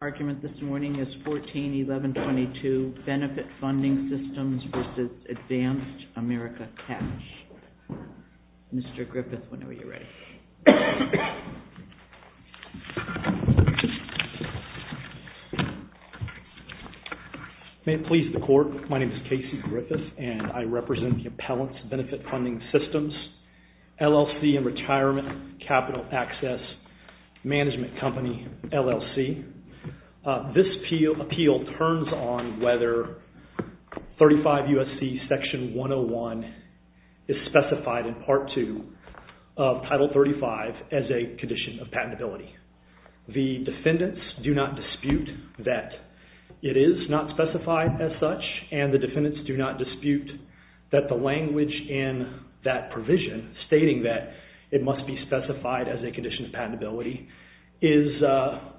Argument this morning is 14-1122, Benefit Funding Systems v. Advance America Cash. Mr. Griffith, whenever you're ready. May it please the Court, my name is Casey Griffith and I represent the Appellants Benefit Funding Systems, LLC and Retirement Capital Access Management Company, LLC. This appeal turns on whether 35 U.S.C. Section 101 is specified in Part 2 of Title 35 as a condition of patentability. The defendants do not dispute that it is not specified as such and the defendants do not dispute that the language in that provision, stating that it must be specified as a condition of patentability, is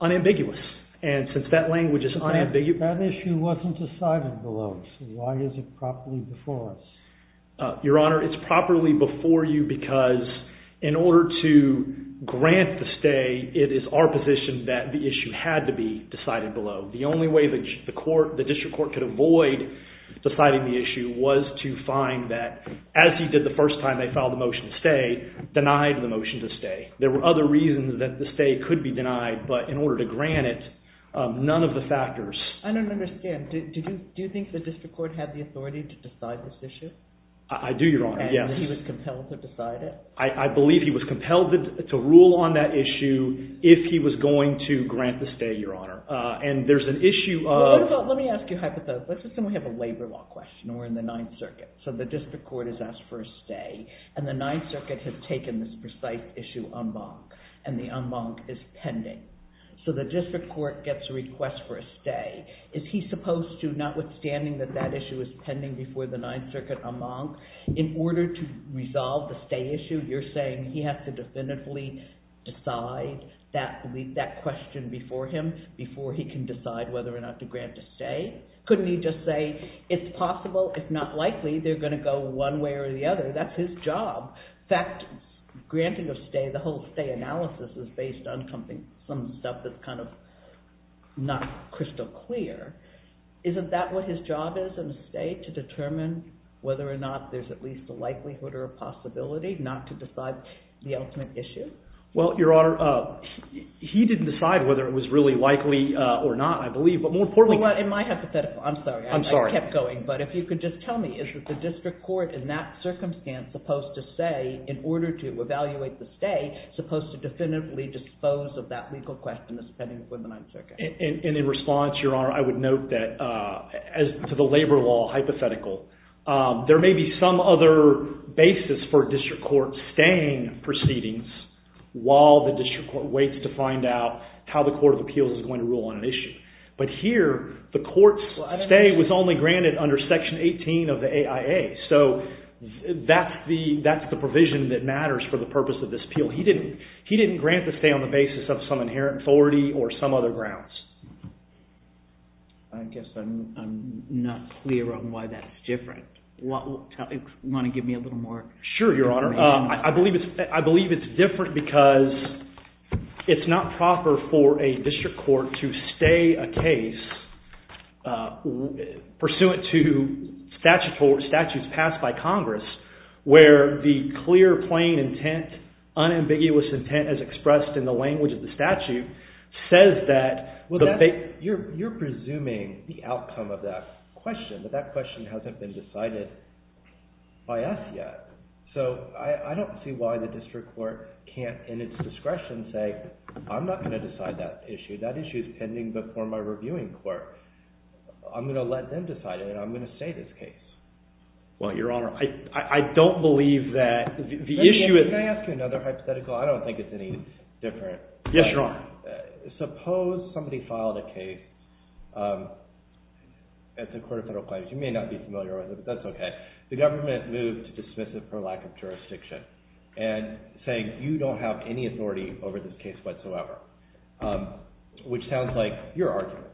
unambiguous. And since that language is unambiguous... That issue wasn't decided below, so why is it properly before us? Your Honor, it's properly before you because in order to grant the stay, it is our position that the issue had to be decided below. The only way the District Court could avoid deciding the issue was to find that, as he did the first time they filed the motion to stay, denied the motion to stay. There were other reasons that the stay could be denied, but in order to grant it, none of the factors... I don't understand. Do you think the District Court had the authority to decide this issue? I do, Your Honor, yes. And he was compelled to decide it? I believe he was compelled to rule on that issue if he was going to grant the stay, Your Honor. And there's an issue of... Let me ask you a hypothetical. Let's assume we have a labor law question. We're in the Ninth Circuit, so the District Court has asked for a stay, and the Ninth Circuit has taken this precise issue en banc, and the en banc is pending. So the District Court gets a request for a stay. Is he supposed to, notwithstanding that that issue is pending before the Ninth Circuit en banc, in order to resolve the stay issue, you're saying he has to definitively decide that question before him, before he can decide whether or not to grant a stay? Couldn't he just say, it's possible, if not likely, they're going to go one way or the other? That's his job. In fact, granting a stay, the whole stay analysis is based on some stuff that's kind of not crystal clear. Isn't that what his job is in a stay? To determine whether or not there's at least a likelihood or a possibility not to decide the ultimate issue? Well, Your Honor, he didn't decide whether it was really likely or not, I believe. But more importantly- In my hypothetical, I'm sorry. I'm sorry. I kept going. But if you could just tell me, is the District Court in that circumstance supposed to say, in order to evaluate the stay, supposed to definitively dispose of that legal question that's pending before the Ninth Circuit? And in response, Your Honor, I would note that, as to the labor law hypothetical, there may be some other basis for a District Court staying proceedings while the District Court waits to find out how the Court of Appeals is going to rule on an issue. But here, the court's stay was only granted under Section 18 of the AIA. So that's the provision that matters for the purpose of this appeal. He didn't grant the stay on the basis of some inherent authority or some other grounds. I guess I'm not clear on why that's different. Want to give me a little more- Sure, Your Honor. I believe it's different because it's not proper for a District Court to stay a case pursuant to statutes passed by Congress where the clear, plain intent, unambiguous intent, as expressed in the language of the statute, says that- You're presuming the outcome of that question, but that question hasn't been decided by us yet. So I don't see why the District Court can't, in its discretion, say, I'm not going to decide that issue. That issue is pending before my reviewing court. I'm going to let them decide it, and I'm going to stay this case. Well, Your Honor, I don't believe that the issue is- Yes, Your Honor. Suppose somebody filed a case at the Court of Federal Claims. You may not be familiar with it, but that's okay. The government moved to dismiss it for lack of jurisdiction and saying, you don't have any authority over this case whatsoever, which sounds like your argument.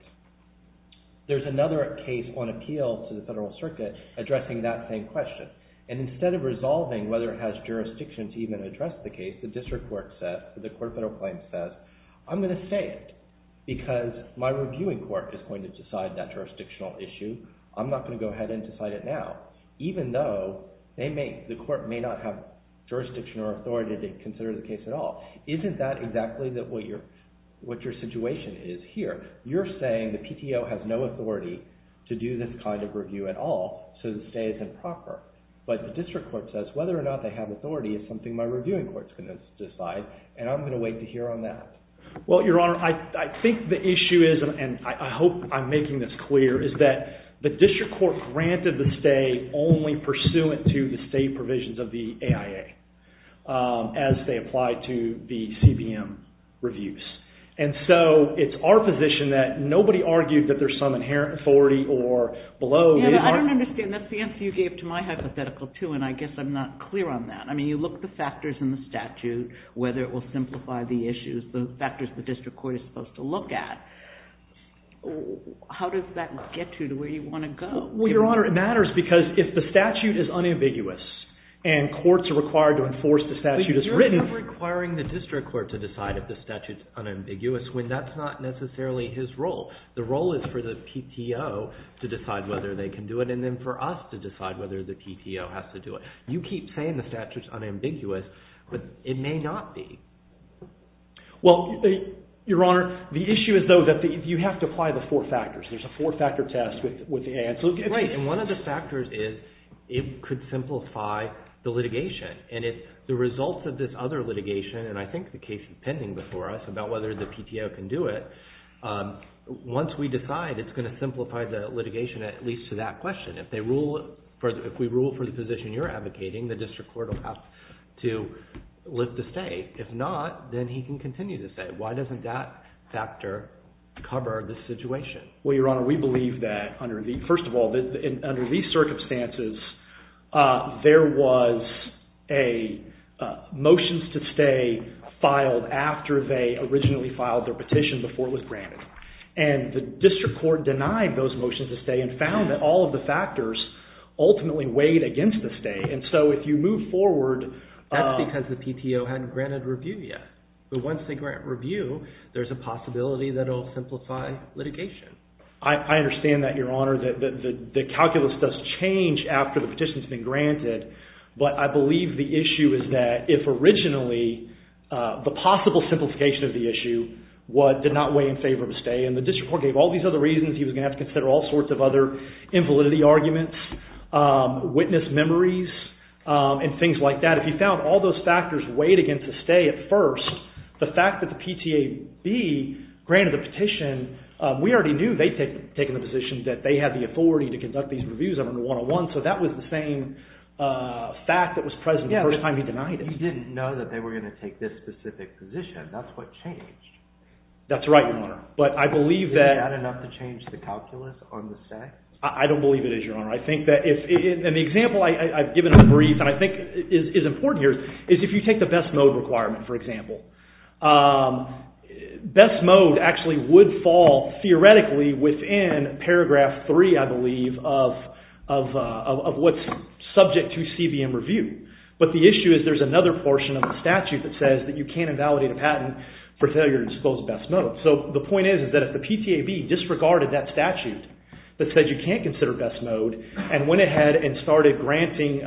There's another case on appeal to the Federal Circuit addressing that same question, and instead of resolving whether it has jurisdiction to even address the case, the District Court says, the Court of Federal Claims says, I'm going to stay it because my reviewing court is going to decide that jurisdictional issue. I'm not going to go ahead and decide it now, even though the court may not have jurisdiction or authority to consider the case at all. Isn't that exactly what your situation is here? You're saying the PTO has no authority to do this kind of review at all, so to say it's improper. But the District Court says whether or not they have authority is something my reviewing court is going to decide, and I'm going to wait to hear on that. Well, Your Honor, I think the issue is, and I hope I'm making this clear, is that the District Court granted the stay only pursuant to the state provisions of the AIA as they apply to the CBM reviews. And so it's our position that nobody argued that there's some inherent authority or below. I don't understand. That's the answer you gave to my hypothetical, too, and I guess I'm not clear on that. I mean, you look at the factors in the statute, whether it will simplify the issues, the factors the District Court is supposed to look at. How does that get you to where you want to go? Well, Your Honor, it matters because if the statute is unambiguous and courts are required to enforce the statute as written. But you're not requiring the District Court to decide if the statute is unambiguous when that's not necessarily his role. The role is for the PTO to decide whether they can do it and then for us to decide whether the PTO has to do it. You keep saying the statute is unambiguous, but it may not be. Well, Your Honor, the issue is, though, that you have to apply the four factors. There's a four-factor test with the AIA. Right, and one of the factors is it could simplify the litigation. And if the results of this other litigation, and I think the case is pending before us about whether the PTO can do it, once we decide it's going to simplify the litigation, at least to that question. If we rule for the position you're advocating, the District Court will have to lift the state. If not, then he can continue to stay. Why doesn't that factor cover the situation? Well, Your Honor, we believe that, first of all, under these circumstances, there was a motions to stay filed after they originally filed their petition before it was granted. And the District Court denied those motions to stay and found that all of the factors ultimately weighed against the stay. And so if you move forward... That's because the PTO hadn't granted review yet. But once they grant review, there's a possibility that it'll simplify litigation. I understand that, Your Honor. The calculus does change after the petition's been granted. But I believe the issue is that if originally the possible simplification of the issue did not weigh in favor of a stay, and the District Court gave all these other reasons, he was going to have to consider all sorts of other invalidity arguments, witness memories, and things like that. If he found all those factors weighed against the stay at first, the fact that the PTAB granted the petition, we already knew they'd taken the position that they had the authority to conduct these reviews under 101. So that was the same fact that was present the first time he denied it. You didn't know that they were going to take this specific position. That's what changed. That's right, Your Honor. But I believe that... Is that enough to change the calculus on the stay? I don't believe it is, Your Honor. I think that if... And the example I've given in brief and I think is important here is if you take the best mode requirement, for example. Best mode actually would fall, theoretically, within paragraph 3, I believe, of what's subject to CBM review. But the issue is there's another portion of the statute that says that you can't invalidate a patent for failure to disclose best mode. So the point is that if the PTAB disregarded that statute that said you can't consider best mode and went ahead and started granting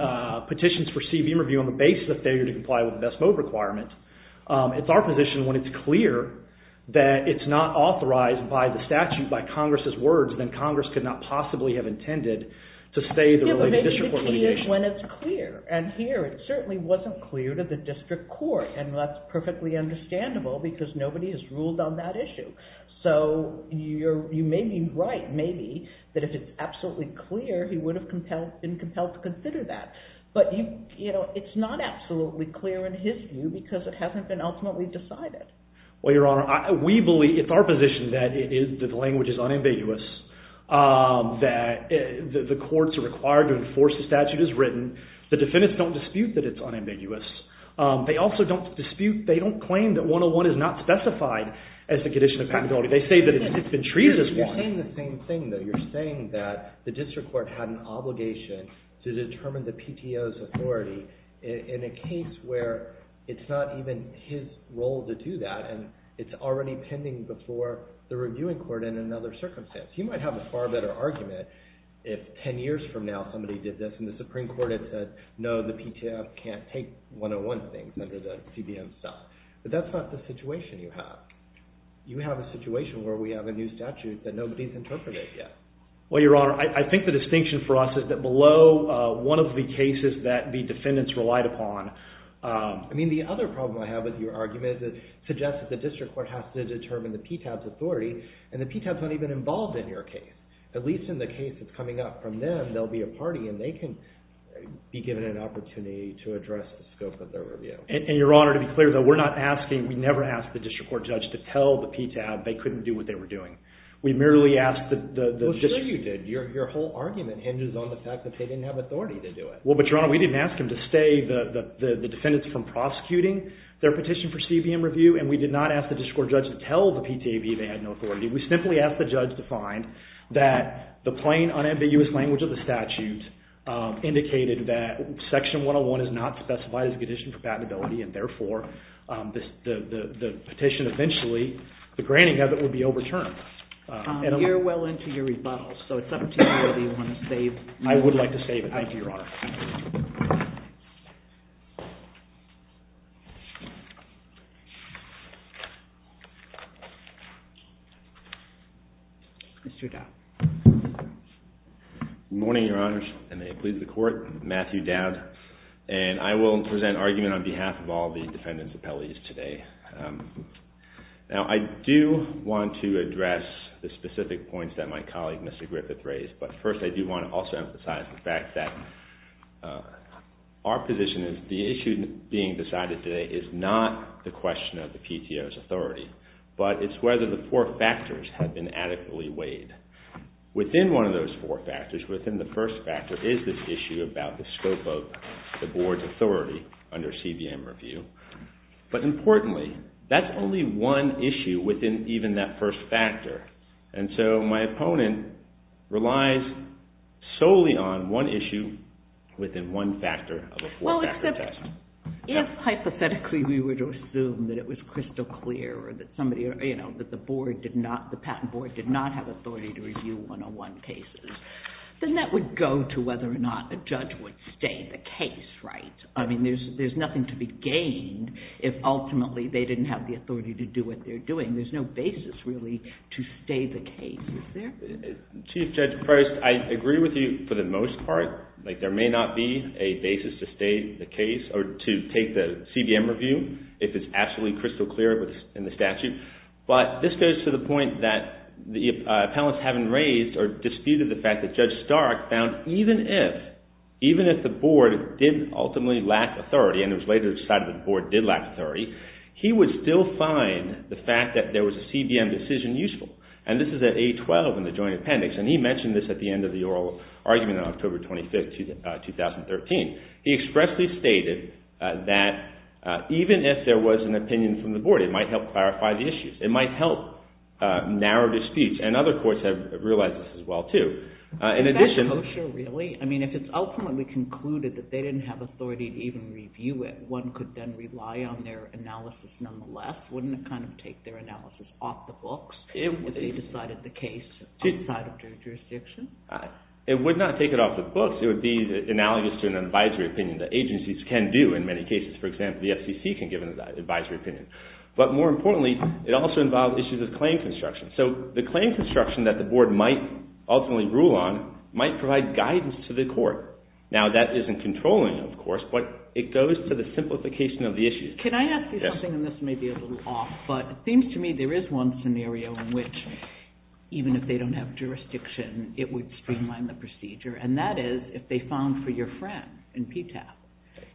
petitions for CBM review on the basis of failure to comply with the best mode requirement, it's our position when it's clear that it's not authorized by the statute or authorized by Congress's words, then Congress could not possibly have intended to stay the related district court litigation. Yeah, but maybe the key is when it's clear. And here it certainly wasn't clear to the district court. And that's perfectly understandable because nobody has ruled on that issue. So you may be right, maybe, that if it's absolutely clear, he would have been compelled to consider that. But it's not absolutely clear in his view because it hasn't been ultimately decided. Well, Your Honor, we believe... It's our position that the language is unambiguous, that the courts are required to enforce the statute as written. The defendants don't dispute that it's unambiguous. They also don't dispute... They don't claim that 101 is not specified as the condition of patentability. They say that it's been treated as one. You're saying the same thing, though. You're saying that the district court had an obligation to determine the PTO's authority in a case where it's not even his role to do that and it's already pending before the reviewing court in another circumstance. You might have a far better argument if ten years from now somebody did this and the Supreme Court had said, no, the PTO can't take 101 things under the CBM stuff. But that's not the situation you have. You have a situation where we have a new statute that nobody's interpreted yet. Well, Your Honor, I think the distinction for us is that below one of the cases that the defendants relied upon... I mean, the other problem I have with your argument is it suggests that the district court has to determine the PTO's authority and the PTO's not even involved in your case. At least in the case that's coming up from them, there'll be a party and they can be given an opportunity to address the scope of their review. And, Your Honor, to be clear, though, we're not asking... We never asked the district court judge to tell the PTO they couldn't do what they were doing. We merely asked the district... Well, sure you did. Your whole argument hinges on the fact that they didn't have authority to do it. Well, but, Your Honor, we didn't ask them to stay... The defendants from prosecuting their petition for CBM review, and we did not ask the district court judge to tell the PTAV they had no authority. We simply asked the judge to find that the plain, unambiguous language of the statute indicated that Section 101 is not specified as a condition for patentability and, therefore, the petition eventually... The granting of it would be overturned. We're well into your rebuttal, so it's up to you whether you want to save... I would like to save it. Thank you, Your Honor. Thank you. Mr. Dowd. Good morning, Your Honors, and may it please the Court. Matthew Dowd, and I will present argument on behalf of all the defendants' appellees today. Now, I do want to address the specific points that my colleague, Mr. Griffith, raised, but first I do want to also emphasize the fact that our position is the issue being decided today is not the question of the PTO's authority, but it's whether the four factors have been adequately weighed. Within one of those four factors, within the first factor, is this issue about the scope of the Board's authority under CBM review. But, importantly, that's only one issue within even that first factor, and so my opponent relies solely on one issue within one factor of a four-factor test. Well, except if hypothetically we were to assume that it was crystal clear or that the Patent Board did not have authority to review 101 cases, then that would go to whether or not a judge would stay the case, right? I mean, there's nothing to be gained if, ultimately, they didn't have the authority to do what they're doing. There's no basis, really, to stay the case. Is there? Chief Judge Prost, I agree with you for the most part. Like, there may not be a basis to stay the case or to take the CBM review if it's absolutely crystal clear in the statute, but this goes to the point that the appellants haven't raised or disputed the fact that Judge Stark found even if the Board did ultimately lack authority, and it was later decided that the Board did lack authority, he would still find the fact that there was a CBM decision useful, and this is at 812 in the Joint Appendix, and he mentioned this at the end of the oral argument on October 25th, 2013. He expressly stated that even if there was an opinion from the Board, it might help clarify the issues. It might help narrow the speech, and other courts have realized this as well, too. Is that kosher, really? I mean, if it's ultimately concluded that they didn't have authority to even review it, that one could then rely on their analysis nonetheless, wouldn't it kind of take their analysis off the books, if they decided the case outside of their jurisdiction? It would not take it off the books. It would be analogous to an advisory opinion that agencies can do in many cases. For example, the FCC can give an advisory opinion. But more importantly, it also involves issues of claim construction. So the claim construction that the Board might ultimately rule on might provide guidance to the court. Now, that isn't controlling, of course, but it goes to the simplification of the issues. Can I ask you something, and this may be a little off, but it seems to me there is one scenario in which, even if they don't have jurisdiction, it would streamline the procedure, and that is if they found for your friend in PTAP,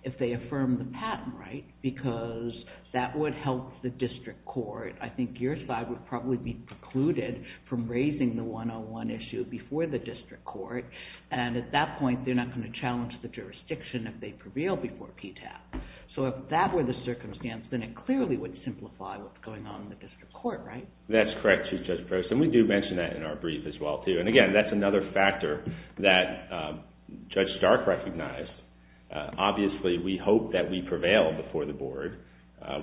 if they affirm the patent right, because that would help the district court. I think your side would probably be precluded from raising the 101 issue before the district court, and at that point, they're not going to challenge the jurisdiction if they prevail before PTAP. So if that were the circumstance, then it clearly would simplify what's going on in the district court, right? That's correct, Chief Judge Prost, and we do mention that in our brief as well, too. And again, that's another factor that Judge Stark recognized. Obviously, we hope that we prevail before the Board.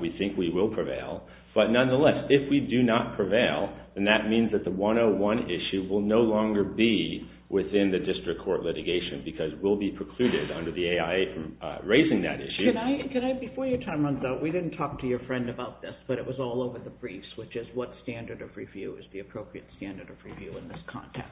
We think we will prevail. But nonetheless, if we do not prevail, then that means that the 101 issue will no longer be within the district court litigation because we'll be precluded under the AIA from raising that issue. Before your time runs out, we didn't talk to your friend about this, but it was all over the briefs, which is what standard of review is the appropriate standard of review in this context.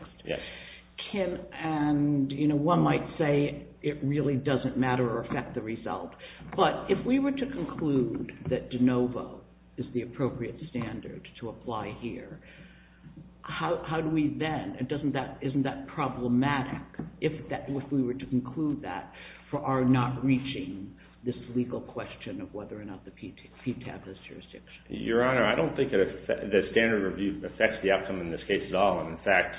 One might say it really doesn't matter or affect the result, but if we were to conclude that de novo is the appropriate standard to apply here, how do we then, and isn't that problematic if we were to conclude that for our not reaching this legal question of whether or not the PTAP has jurisdiction? Your Honor, I don't think the standard of review affects the outcome in this case at all. In fact,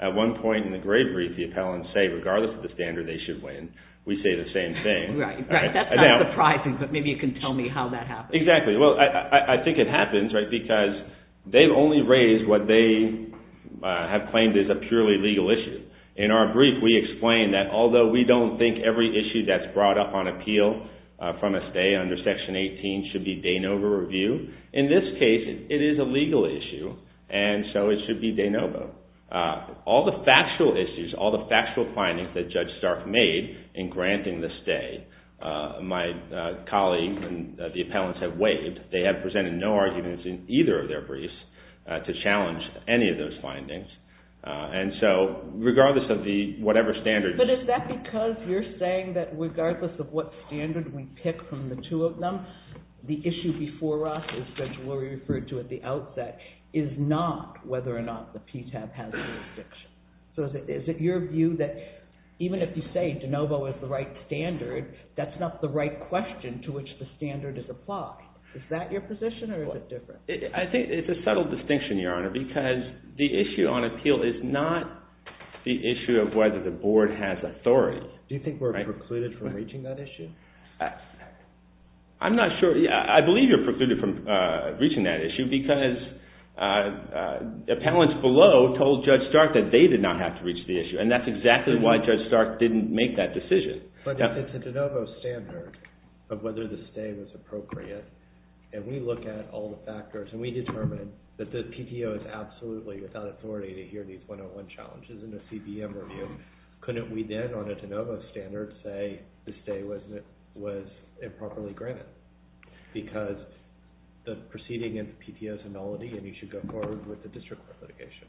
at one point in the gray brief, the appellants say, regardless of the standard, they should win. We say the same thing. That's not surprising, but maybe you can tell me how that happens. Exactly. Well, I think it happens because they've only raised what they have claimed is a purely legal issue. In our brief, we explain that although we don't think every issue that's brought up on appeal from a stay under Section 18 should be de novo review, in this case, it is a legal issue, and so it should be de novo. All the factual issues, all the factual findings that Judge Stark made in granting the stay, my colleagues and the appellants have waived. They have presented no arguments in either of their briefs to challenge any of those findings, and so regardless of the whatever standards. But is that because you're saying that regardless of what standard we pick from the two of them, the issue before us, as Judge Lurie referred to at the outset, is not whether or not the PTAB has jurisdiction? So is it your view that even if you say de novo is the right standard, that's not the right question to which the standard is applied? Is that your position, or is it different? I think it's a subtle distinction, Your Honor, because the issue on appeal is not the issue of whether the board has authority. Do you think we're precluded from reaching that issue? I'm not sure. I believe you're precluded from reaching that issue because appellants below told Judge Stark that they did not have to reach the issue, and that's exactly why Judge Stark didn't make that decision. But if it's a de novo standard of whether the stay was appropriate, and we look at all the factors, and we determine that the PTO is absolutely without authority to hear these 101 challenges in a CBM review, couldn't we then, on a de novo standard, say the stay was improperly granted? Because the proceeding in the PTO is a nullity, and you should go forward with the district court litigation.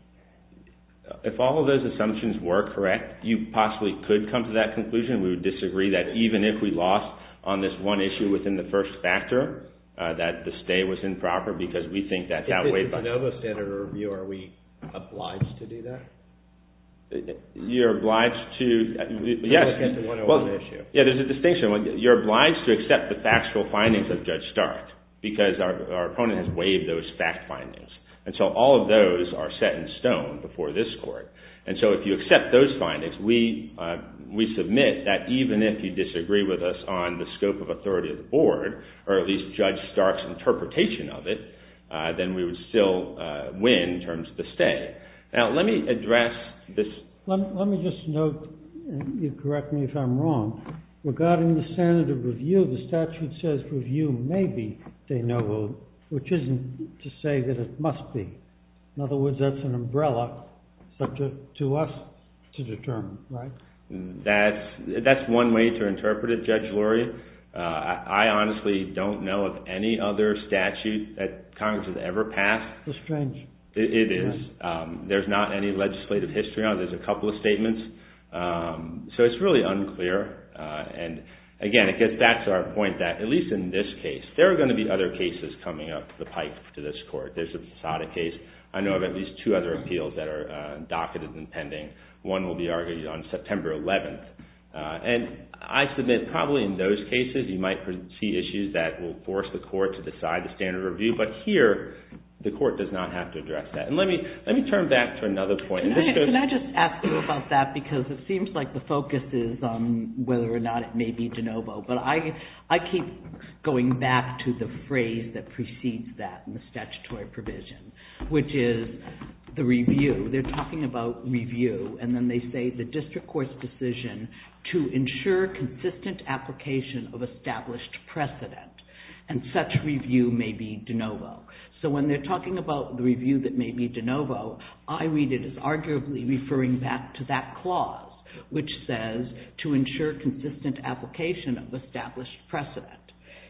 If all of those assumptions were correct, you possibly could come to that conclusion. We would disagree that even if we lost on this one issue within the first factor, that the stay was improper, because we think that's outweighed by… If it's a de novo standard review, are we obliged to do that? You're obliged to… To look at the 101 issue. Yeah, there's a distinction. You're obliged to accept the factual findings of Judge Stark, because our opponent has waived those fact findings. And so all of those are set in stone before this court. And so if you accept those findings, we submit that even if you disagree with us on the scope of authority of the board, or at least Judge Stark's interpretation of it, then we would still win in terms of the stay. Now, let me address this… Let me just note, and you correct me if I'm wrong, regarding the standard of review, the statute says review may be de novo, which isn't to say that it must be. In other words, that's an umbrella subject to us to determine, right? That's one way to interpret it, Judge Luria. I honestly don't know of any other statute that Congress has ever passed. That's strange. It is. There's not any legislative history on it. There's a couple of statements. So it's really unclear. And again, I guess that's our point, that at least in this case, there are going to be other cases coming up the pipe to this court. There's the Posada case. I know of at least two other appeals that are docketed and pending. One will be argued on September 11th. And I submit probably in those cases, you might see issues that will force the court to decide the standard of review. But here, the court does not have to address that. And let me turn back to another point. Can I just ask you about that? Because it seems like the focus is on whether or not it may be de novo. But I keep going back to the phrase that precedes that in the statutory provision, which is the review. They're talking about review. And then they say the district court's decision to ensure consistent application of established precedent. And such review may be de novo. So when they're talking about the review that may be de novo, I read it as arguably referring back to that clause, which says to ensure consistent application of established precedent.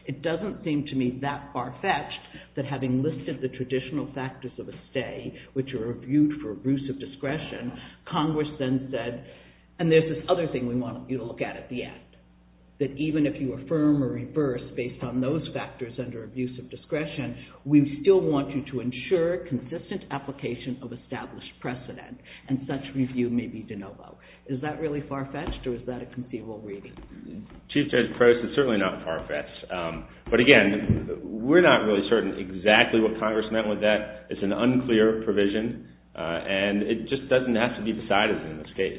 It doesn't seem to me that far-fetched that having listed the traditional factors of a stay, which are reviewed for abusive discretion, Congress then said, and there's this other thing we want you to look at at the end, that even if you affirm or reverse based on those factors under abusive discretion, we still want you to ensure consistent application of established precedent. And such review may be de novo. Is that really far-fetched, or is that a conceivable reading? Chief Judge Prost, it's certainly not far-fetched. But again, we're not really certain exactly what Congress meant with that. It's an unclear provision. And it just doesn't have to be decided in this case.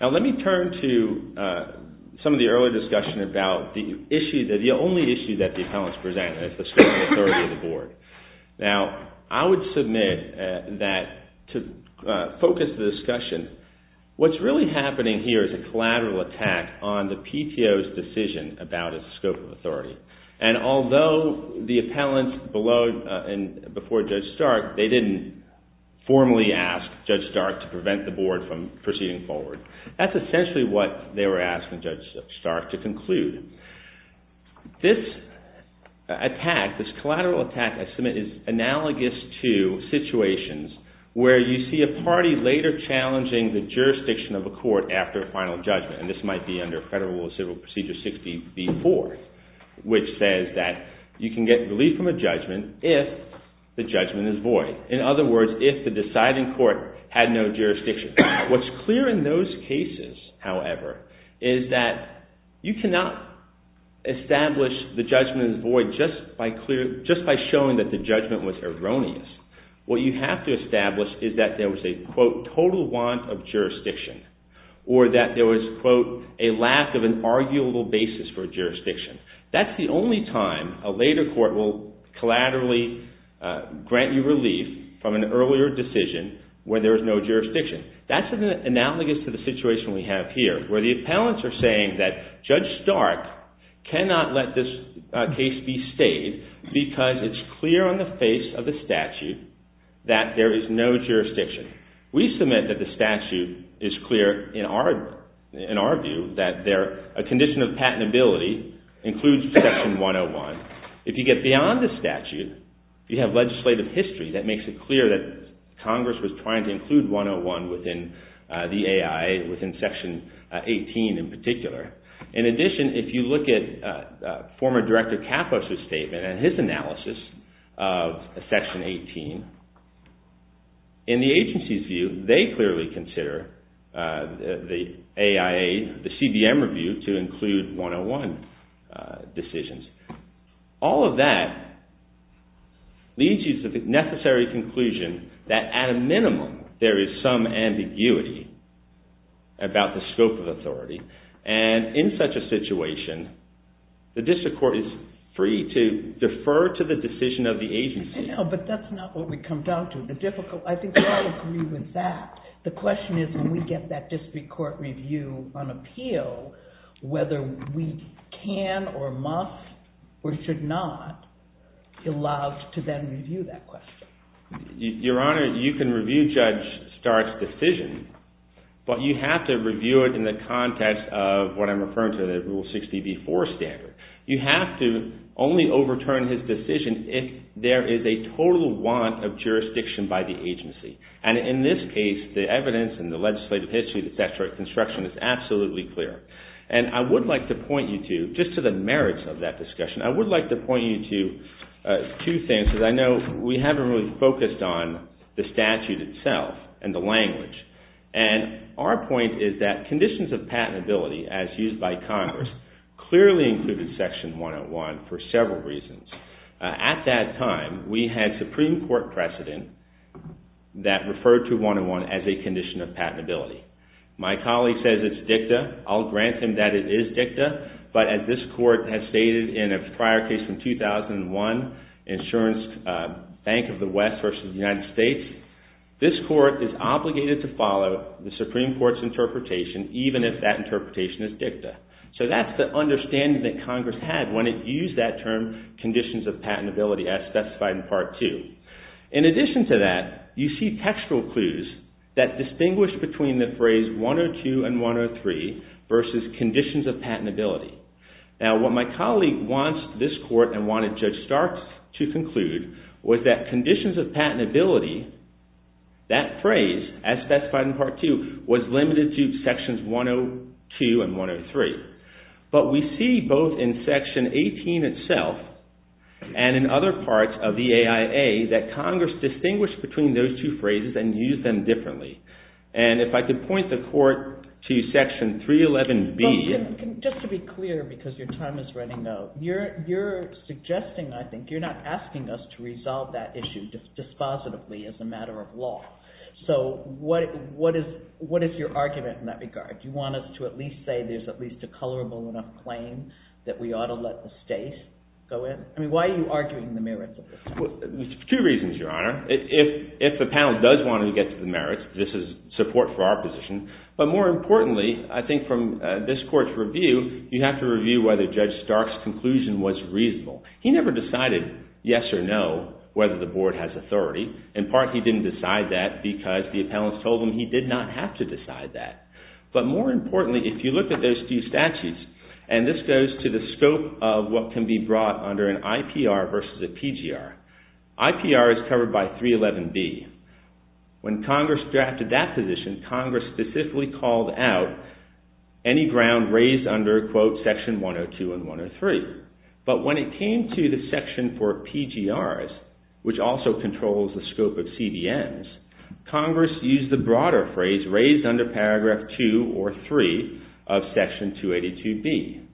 Now let me turn to some of the earlier discussion about the issue, the only issue that the appellants present, and it's the scope of authority of the board. Now, I would submit that to focus the discussion, what's really happening here is a collateral attack on the PTO's decision about its scope of authority. And although the appellants before Judge Stark, they didn't formally ask Judge Stark to prevent the board from proceeding forward. That's essentially what they were asking Judge Stark to conclude. This attack, this collateral attack I submit is analogous to situations where you see a party later challenging the jurisdiction of a court after a final judgment. And this might be under Federal Rule of Civil Procedure 60B-4, which says that you can get relief from a judgment if the judgment is void. In other words, if the deciding court had no jurisdiction. What's clear in those cases, however, is that you cannot establish the judgment is void just by showing that the judgment was erroneous. What you have to establish is that there was a, quote, total want of jurisdiction. Or that there was, quote, a lack of an arguable basis for jurisdiction. That's the only time a later court will collaterally grant you relief from an earlier decision where there is no jurisdiction. That's analogous to the situation we have here, where the appellants are saying that Judge Stark cannot let this case be stayed because it's clear on the face of the statute that there is no jurisdiction. We submit that the statute is clear in our view that a condition of patentability includes Section 101. If you get beyond the statute, you have legislative history that makes it clear that Congress was trying to include 101 within the AI, within Section 18 in particular. In addition, if you look at former Director Kapos' statement and his analysis of Section 18, in the agency's view, they clearly consider the AIA, the CBM review to include 101 decisions. All of that leads you to the necessary conclusion that at a minimum, there is some ambiguity about the scope of authority. And in such a situation, the district court is free to defer to the decision of the agency. But that's not what we come down to. I think we all agree with that. The question is when we get that district court review on appeal, whether we can or must or should not allow to then review that question. Your Honor, you can review Judge Stark's decision, but you have to review it in the context of what I'm referring to, the Rule 60b-4 standard. You have to only overturn his decision if there is a total want of jurisdiction by the agency. And in this case, the evidence and the legislative history, the statutory construction is absolutely clear. And I would like to point you to, just to the merits of that discussion, I would like to point you to two things because I know we haven't really focused on the statute itself and the language. And our point is that conditions of patentability, as used by Congress, clearly included Section 101 for several reasons. At that time, we had Supreme Court precedent that referred to 101 as a condition of patentability. My colleague says it's dicta. I'll grant him that it is dicta. But as this Court has stated in a prior case from 2001, Insurance Bank of the West versus the United States, this Court is obligated to follow the Supreme Court's interpretation even if that interpretation is dicta. So that's the understanding that Congress had when it used that term conditions of patentability as specified in Part 2. In addition to that, you see textual clues that distinguish between the phrase 102 and 103 versus conditions of patentability. Now, what my colleague wants this Court and wanted Judge Starks to conclude was that conditions of patentability, that phrase, as specified in Part 2, was limited to Sections 102 and 103. But we see both in Section 18 itself and in other parts of the AIA that Congress distinguished between those two phrases and used them differently. And if I could point the Court to Section 311B. Just to be clear, because your time is running out, you're suggesting, I think, you're not asking us to resolve that issue dispositively as a matter of law. So what is your argument in that regard? Do you want us to at least say there's at least a colorable enough claim that we ought to let the State go in? I mean, why are you arguing the merits of this? There's two reasons, Your Honor. If the panel does want to get to the merits, this is support for our position. But more importantly, I think from this Court's review, you have to review whether Judge Starks' conclusion was reasonable. He never decided, yes or no, whether the Board has authority. In part, he didn't decide that because the appellants told him he did not have to decide that. But more importantly, if you look at those two statutes, and this goes to the scope of what can be brought under an IPR versus a PGR. IPR is covered by 311B. When Congress drafted that position, Congress specifically called out any ground raised under, quote, Section 102 and 103. But when it came to the section for PGRs, which also controls the scope of CDMs, Congress used the broader phrase raised under Paragraph 2 or 3 of Section 282B.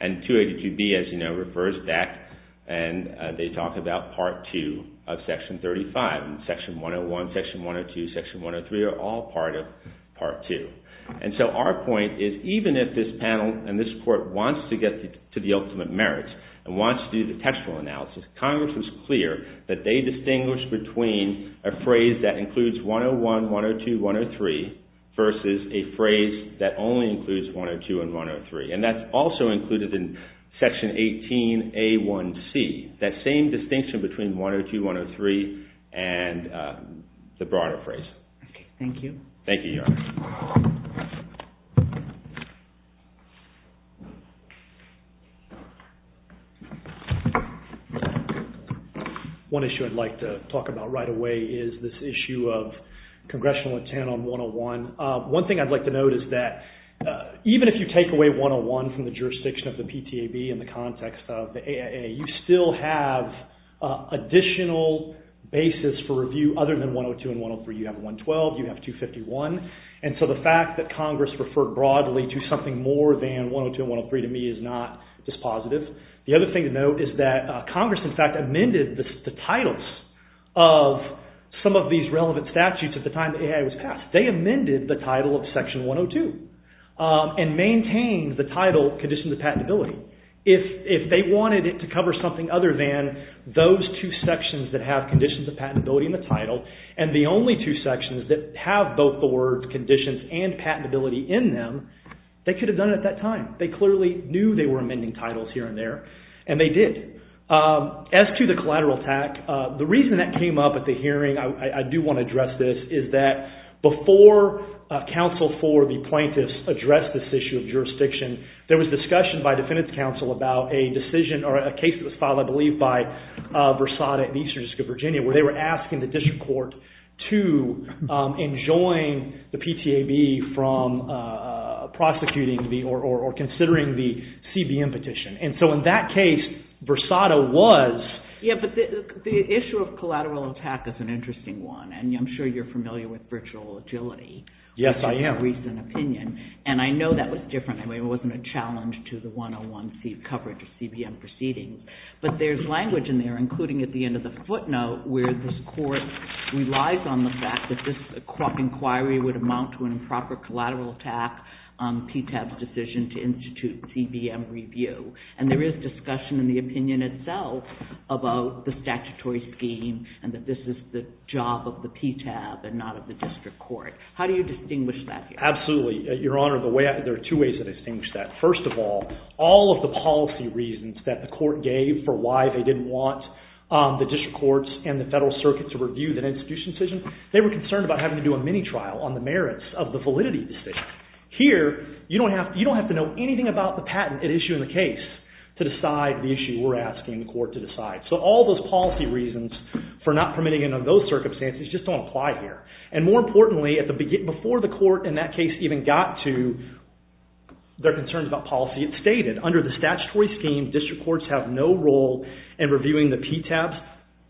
And 282B, as you know, refers back and they talk about Part 2 of Section 35. Section 101, Section 102, Section 103 are all part of Part 2. And so our point is even if this panel and this Court wants to get to the ultimate merits and wants to do the textual analysis, Congress is clear that they distinguish between a phrase that includes 101, 102, 103 versus a phrase that only includes 102 and 103. And that's also included in Section 18A1C, that same distinction between 102, 103 and the broader phrase. Thank you. Thank you, Your Honor. One issue I'd like to talk about right away is this issue of congressional intent on 101. One thing I'd like to note is that even if you take away 101 from the jurisdiction of the PTAB in the context of the AIA, you still have additional basis for review other than 102 and 103. You have 112, you have 251. And so the fact that Congress referred broadly to something more than 102 and 103 to me is not dispositive. The other thing to note is that Congress, in fact, amended the titles of some of these relevant statutes at the time the AIA was passed. They amended the title of Section 102 and maintained the title Conditions of Patentability. If they wanted it to cover something other than those two sections that have Conditions of Patentability in the title and the only two sections that have both the words Conditions and Patentability in them, they could have done it at that time. They clearly knew they were amending titles here and there, and they did. As to the collateral attack, the reason that came up at the hearing, I do want to address this, is that before counsel for the plaintiffs addressed this issue of jurisdiction, there was discussion by defendant's counsel about a decision or a case that was filed, I believe, by Versada at the Eastern District of Virginia where they were asking the district court to enjoin the PTAB from prosecuting or considering the CBM petition. And so in that case, Versada was... And I'm sure you're familiar with virtual agility... Yes, I am. ...recent opinion. And I know that was different. I mean, it wasn't a challenge to the 101C coverage of CBM proceedings. But there's language in there, including at the end of the footnote, where this court relies on the fact that this inquiry would amount to an improper collateral attack on PTAB's decision to institute CBM review. And there is discussion in the opinion itself about the statutory scheme and that this is the job of the PTAB and not of the district court. How do you distinguish that here? Absolutely. Your Honor, there are two ways that I distinguish that. First of all, all of the policy reasons that the court gave for why they didn't want the district courts and the federal circuit to review that institution decision, they were concerned about having to do a mini-trial on the merits of the validity decision. Here, you don't have to know anything about the patent at issue in the case to decide the issue we're asking the court to decide. So all those policy reasons for not permitting it under those circumstances just don't apply here. And more importantly, before the court in that case even got to their concerns about policy, it stated, under the statutory scheme, district courts have no role in reviewing the PTAB's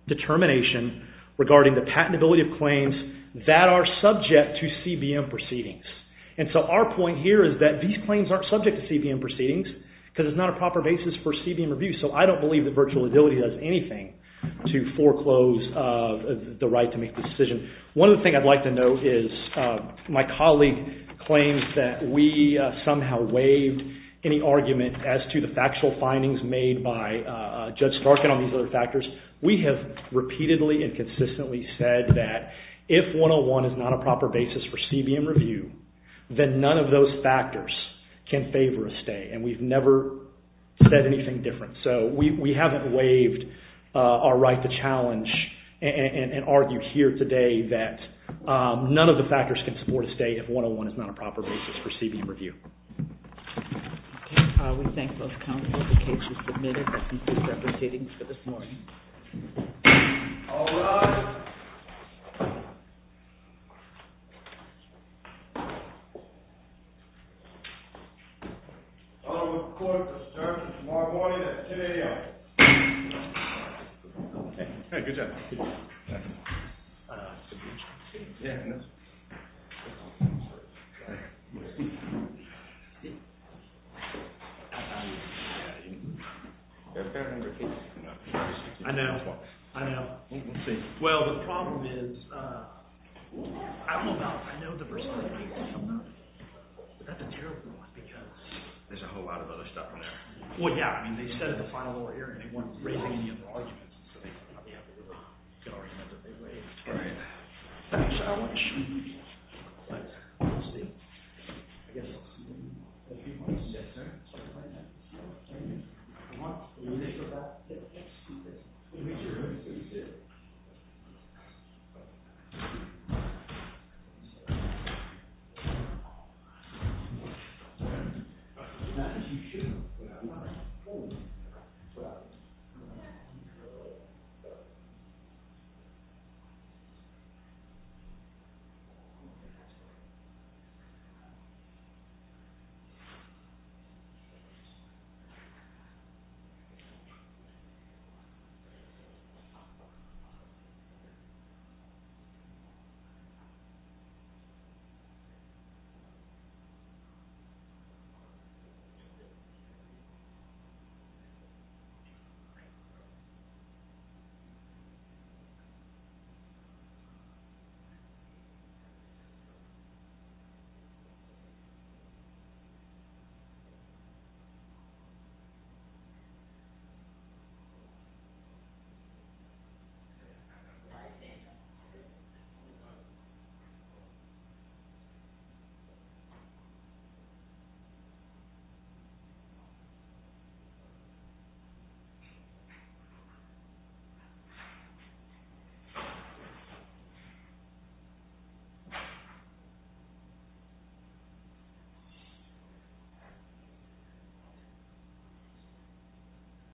determination regarding the patentability of claims that are subject to CBM proceedings. And so our point here is that these claims aren't subject to CBM proceedings because it's not a proper basis for CBM review. So I don't believe that virtual liability does anything to foreclose the right to make the decision. One other thing I'd like to note is my colleague claims that we somehow waived any argument as to the factual findings made by Judge Starkin on these other factors. We have repeatedly and consistently said that if 101 is not a proper basis for CBM review, then none of those factors can favor a stay, and we've never said anything different. So we haven't waived our right to challenge and argued here today that none of the factors can support a stay if 101 is not a proper basis for CBM review. Okay. We thank both counsels. The case is submitted. That concludes our proceedings for this morning. All rise. The court is adjourned until tomorrow morning at 2 a.m. Hey, good job. See? I know. I know. Well, the problem is... I don't know about... I know the person... But that's a terrible one because... There's a whole lot of other stuff in there. Well, yeah. I mean, they said it in the final oral hearing. They weren't raising any other arguments. Right. I want to show you... Let's see. I guess I'll see you in a few months. Yes, sir. I want to make sure that... I want to make sure everything's good. Not that you should. I'm not. Oh. Right. Okay. All right. Yes.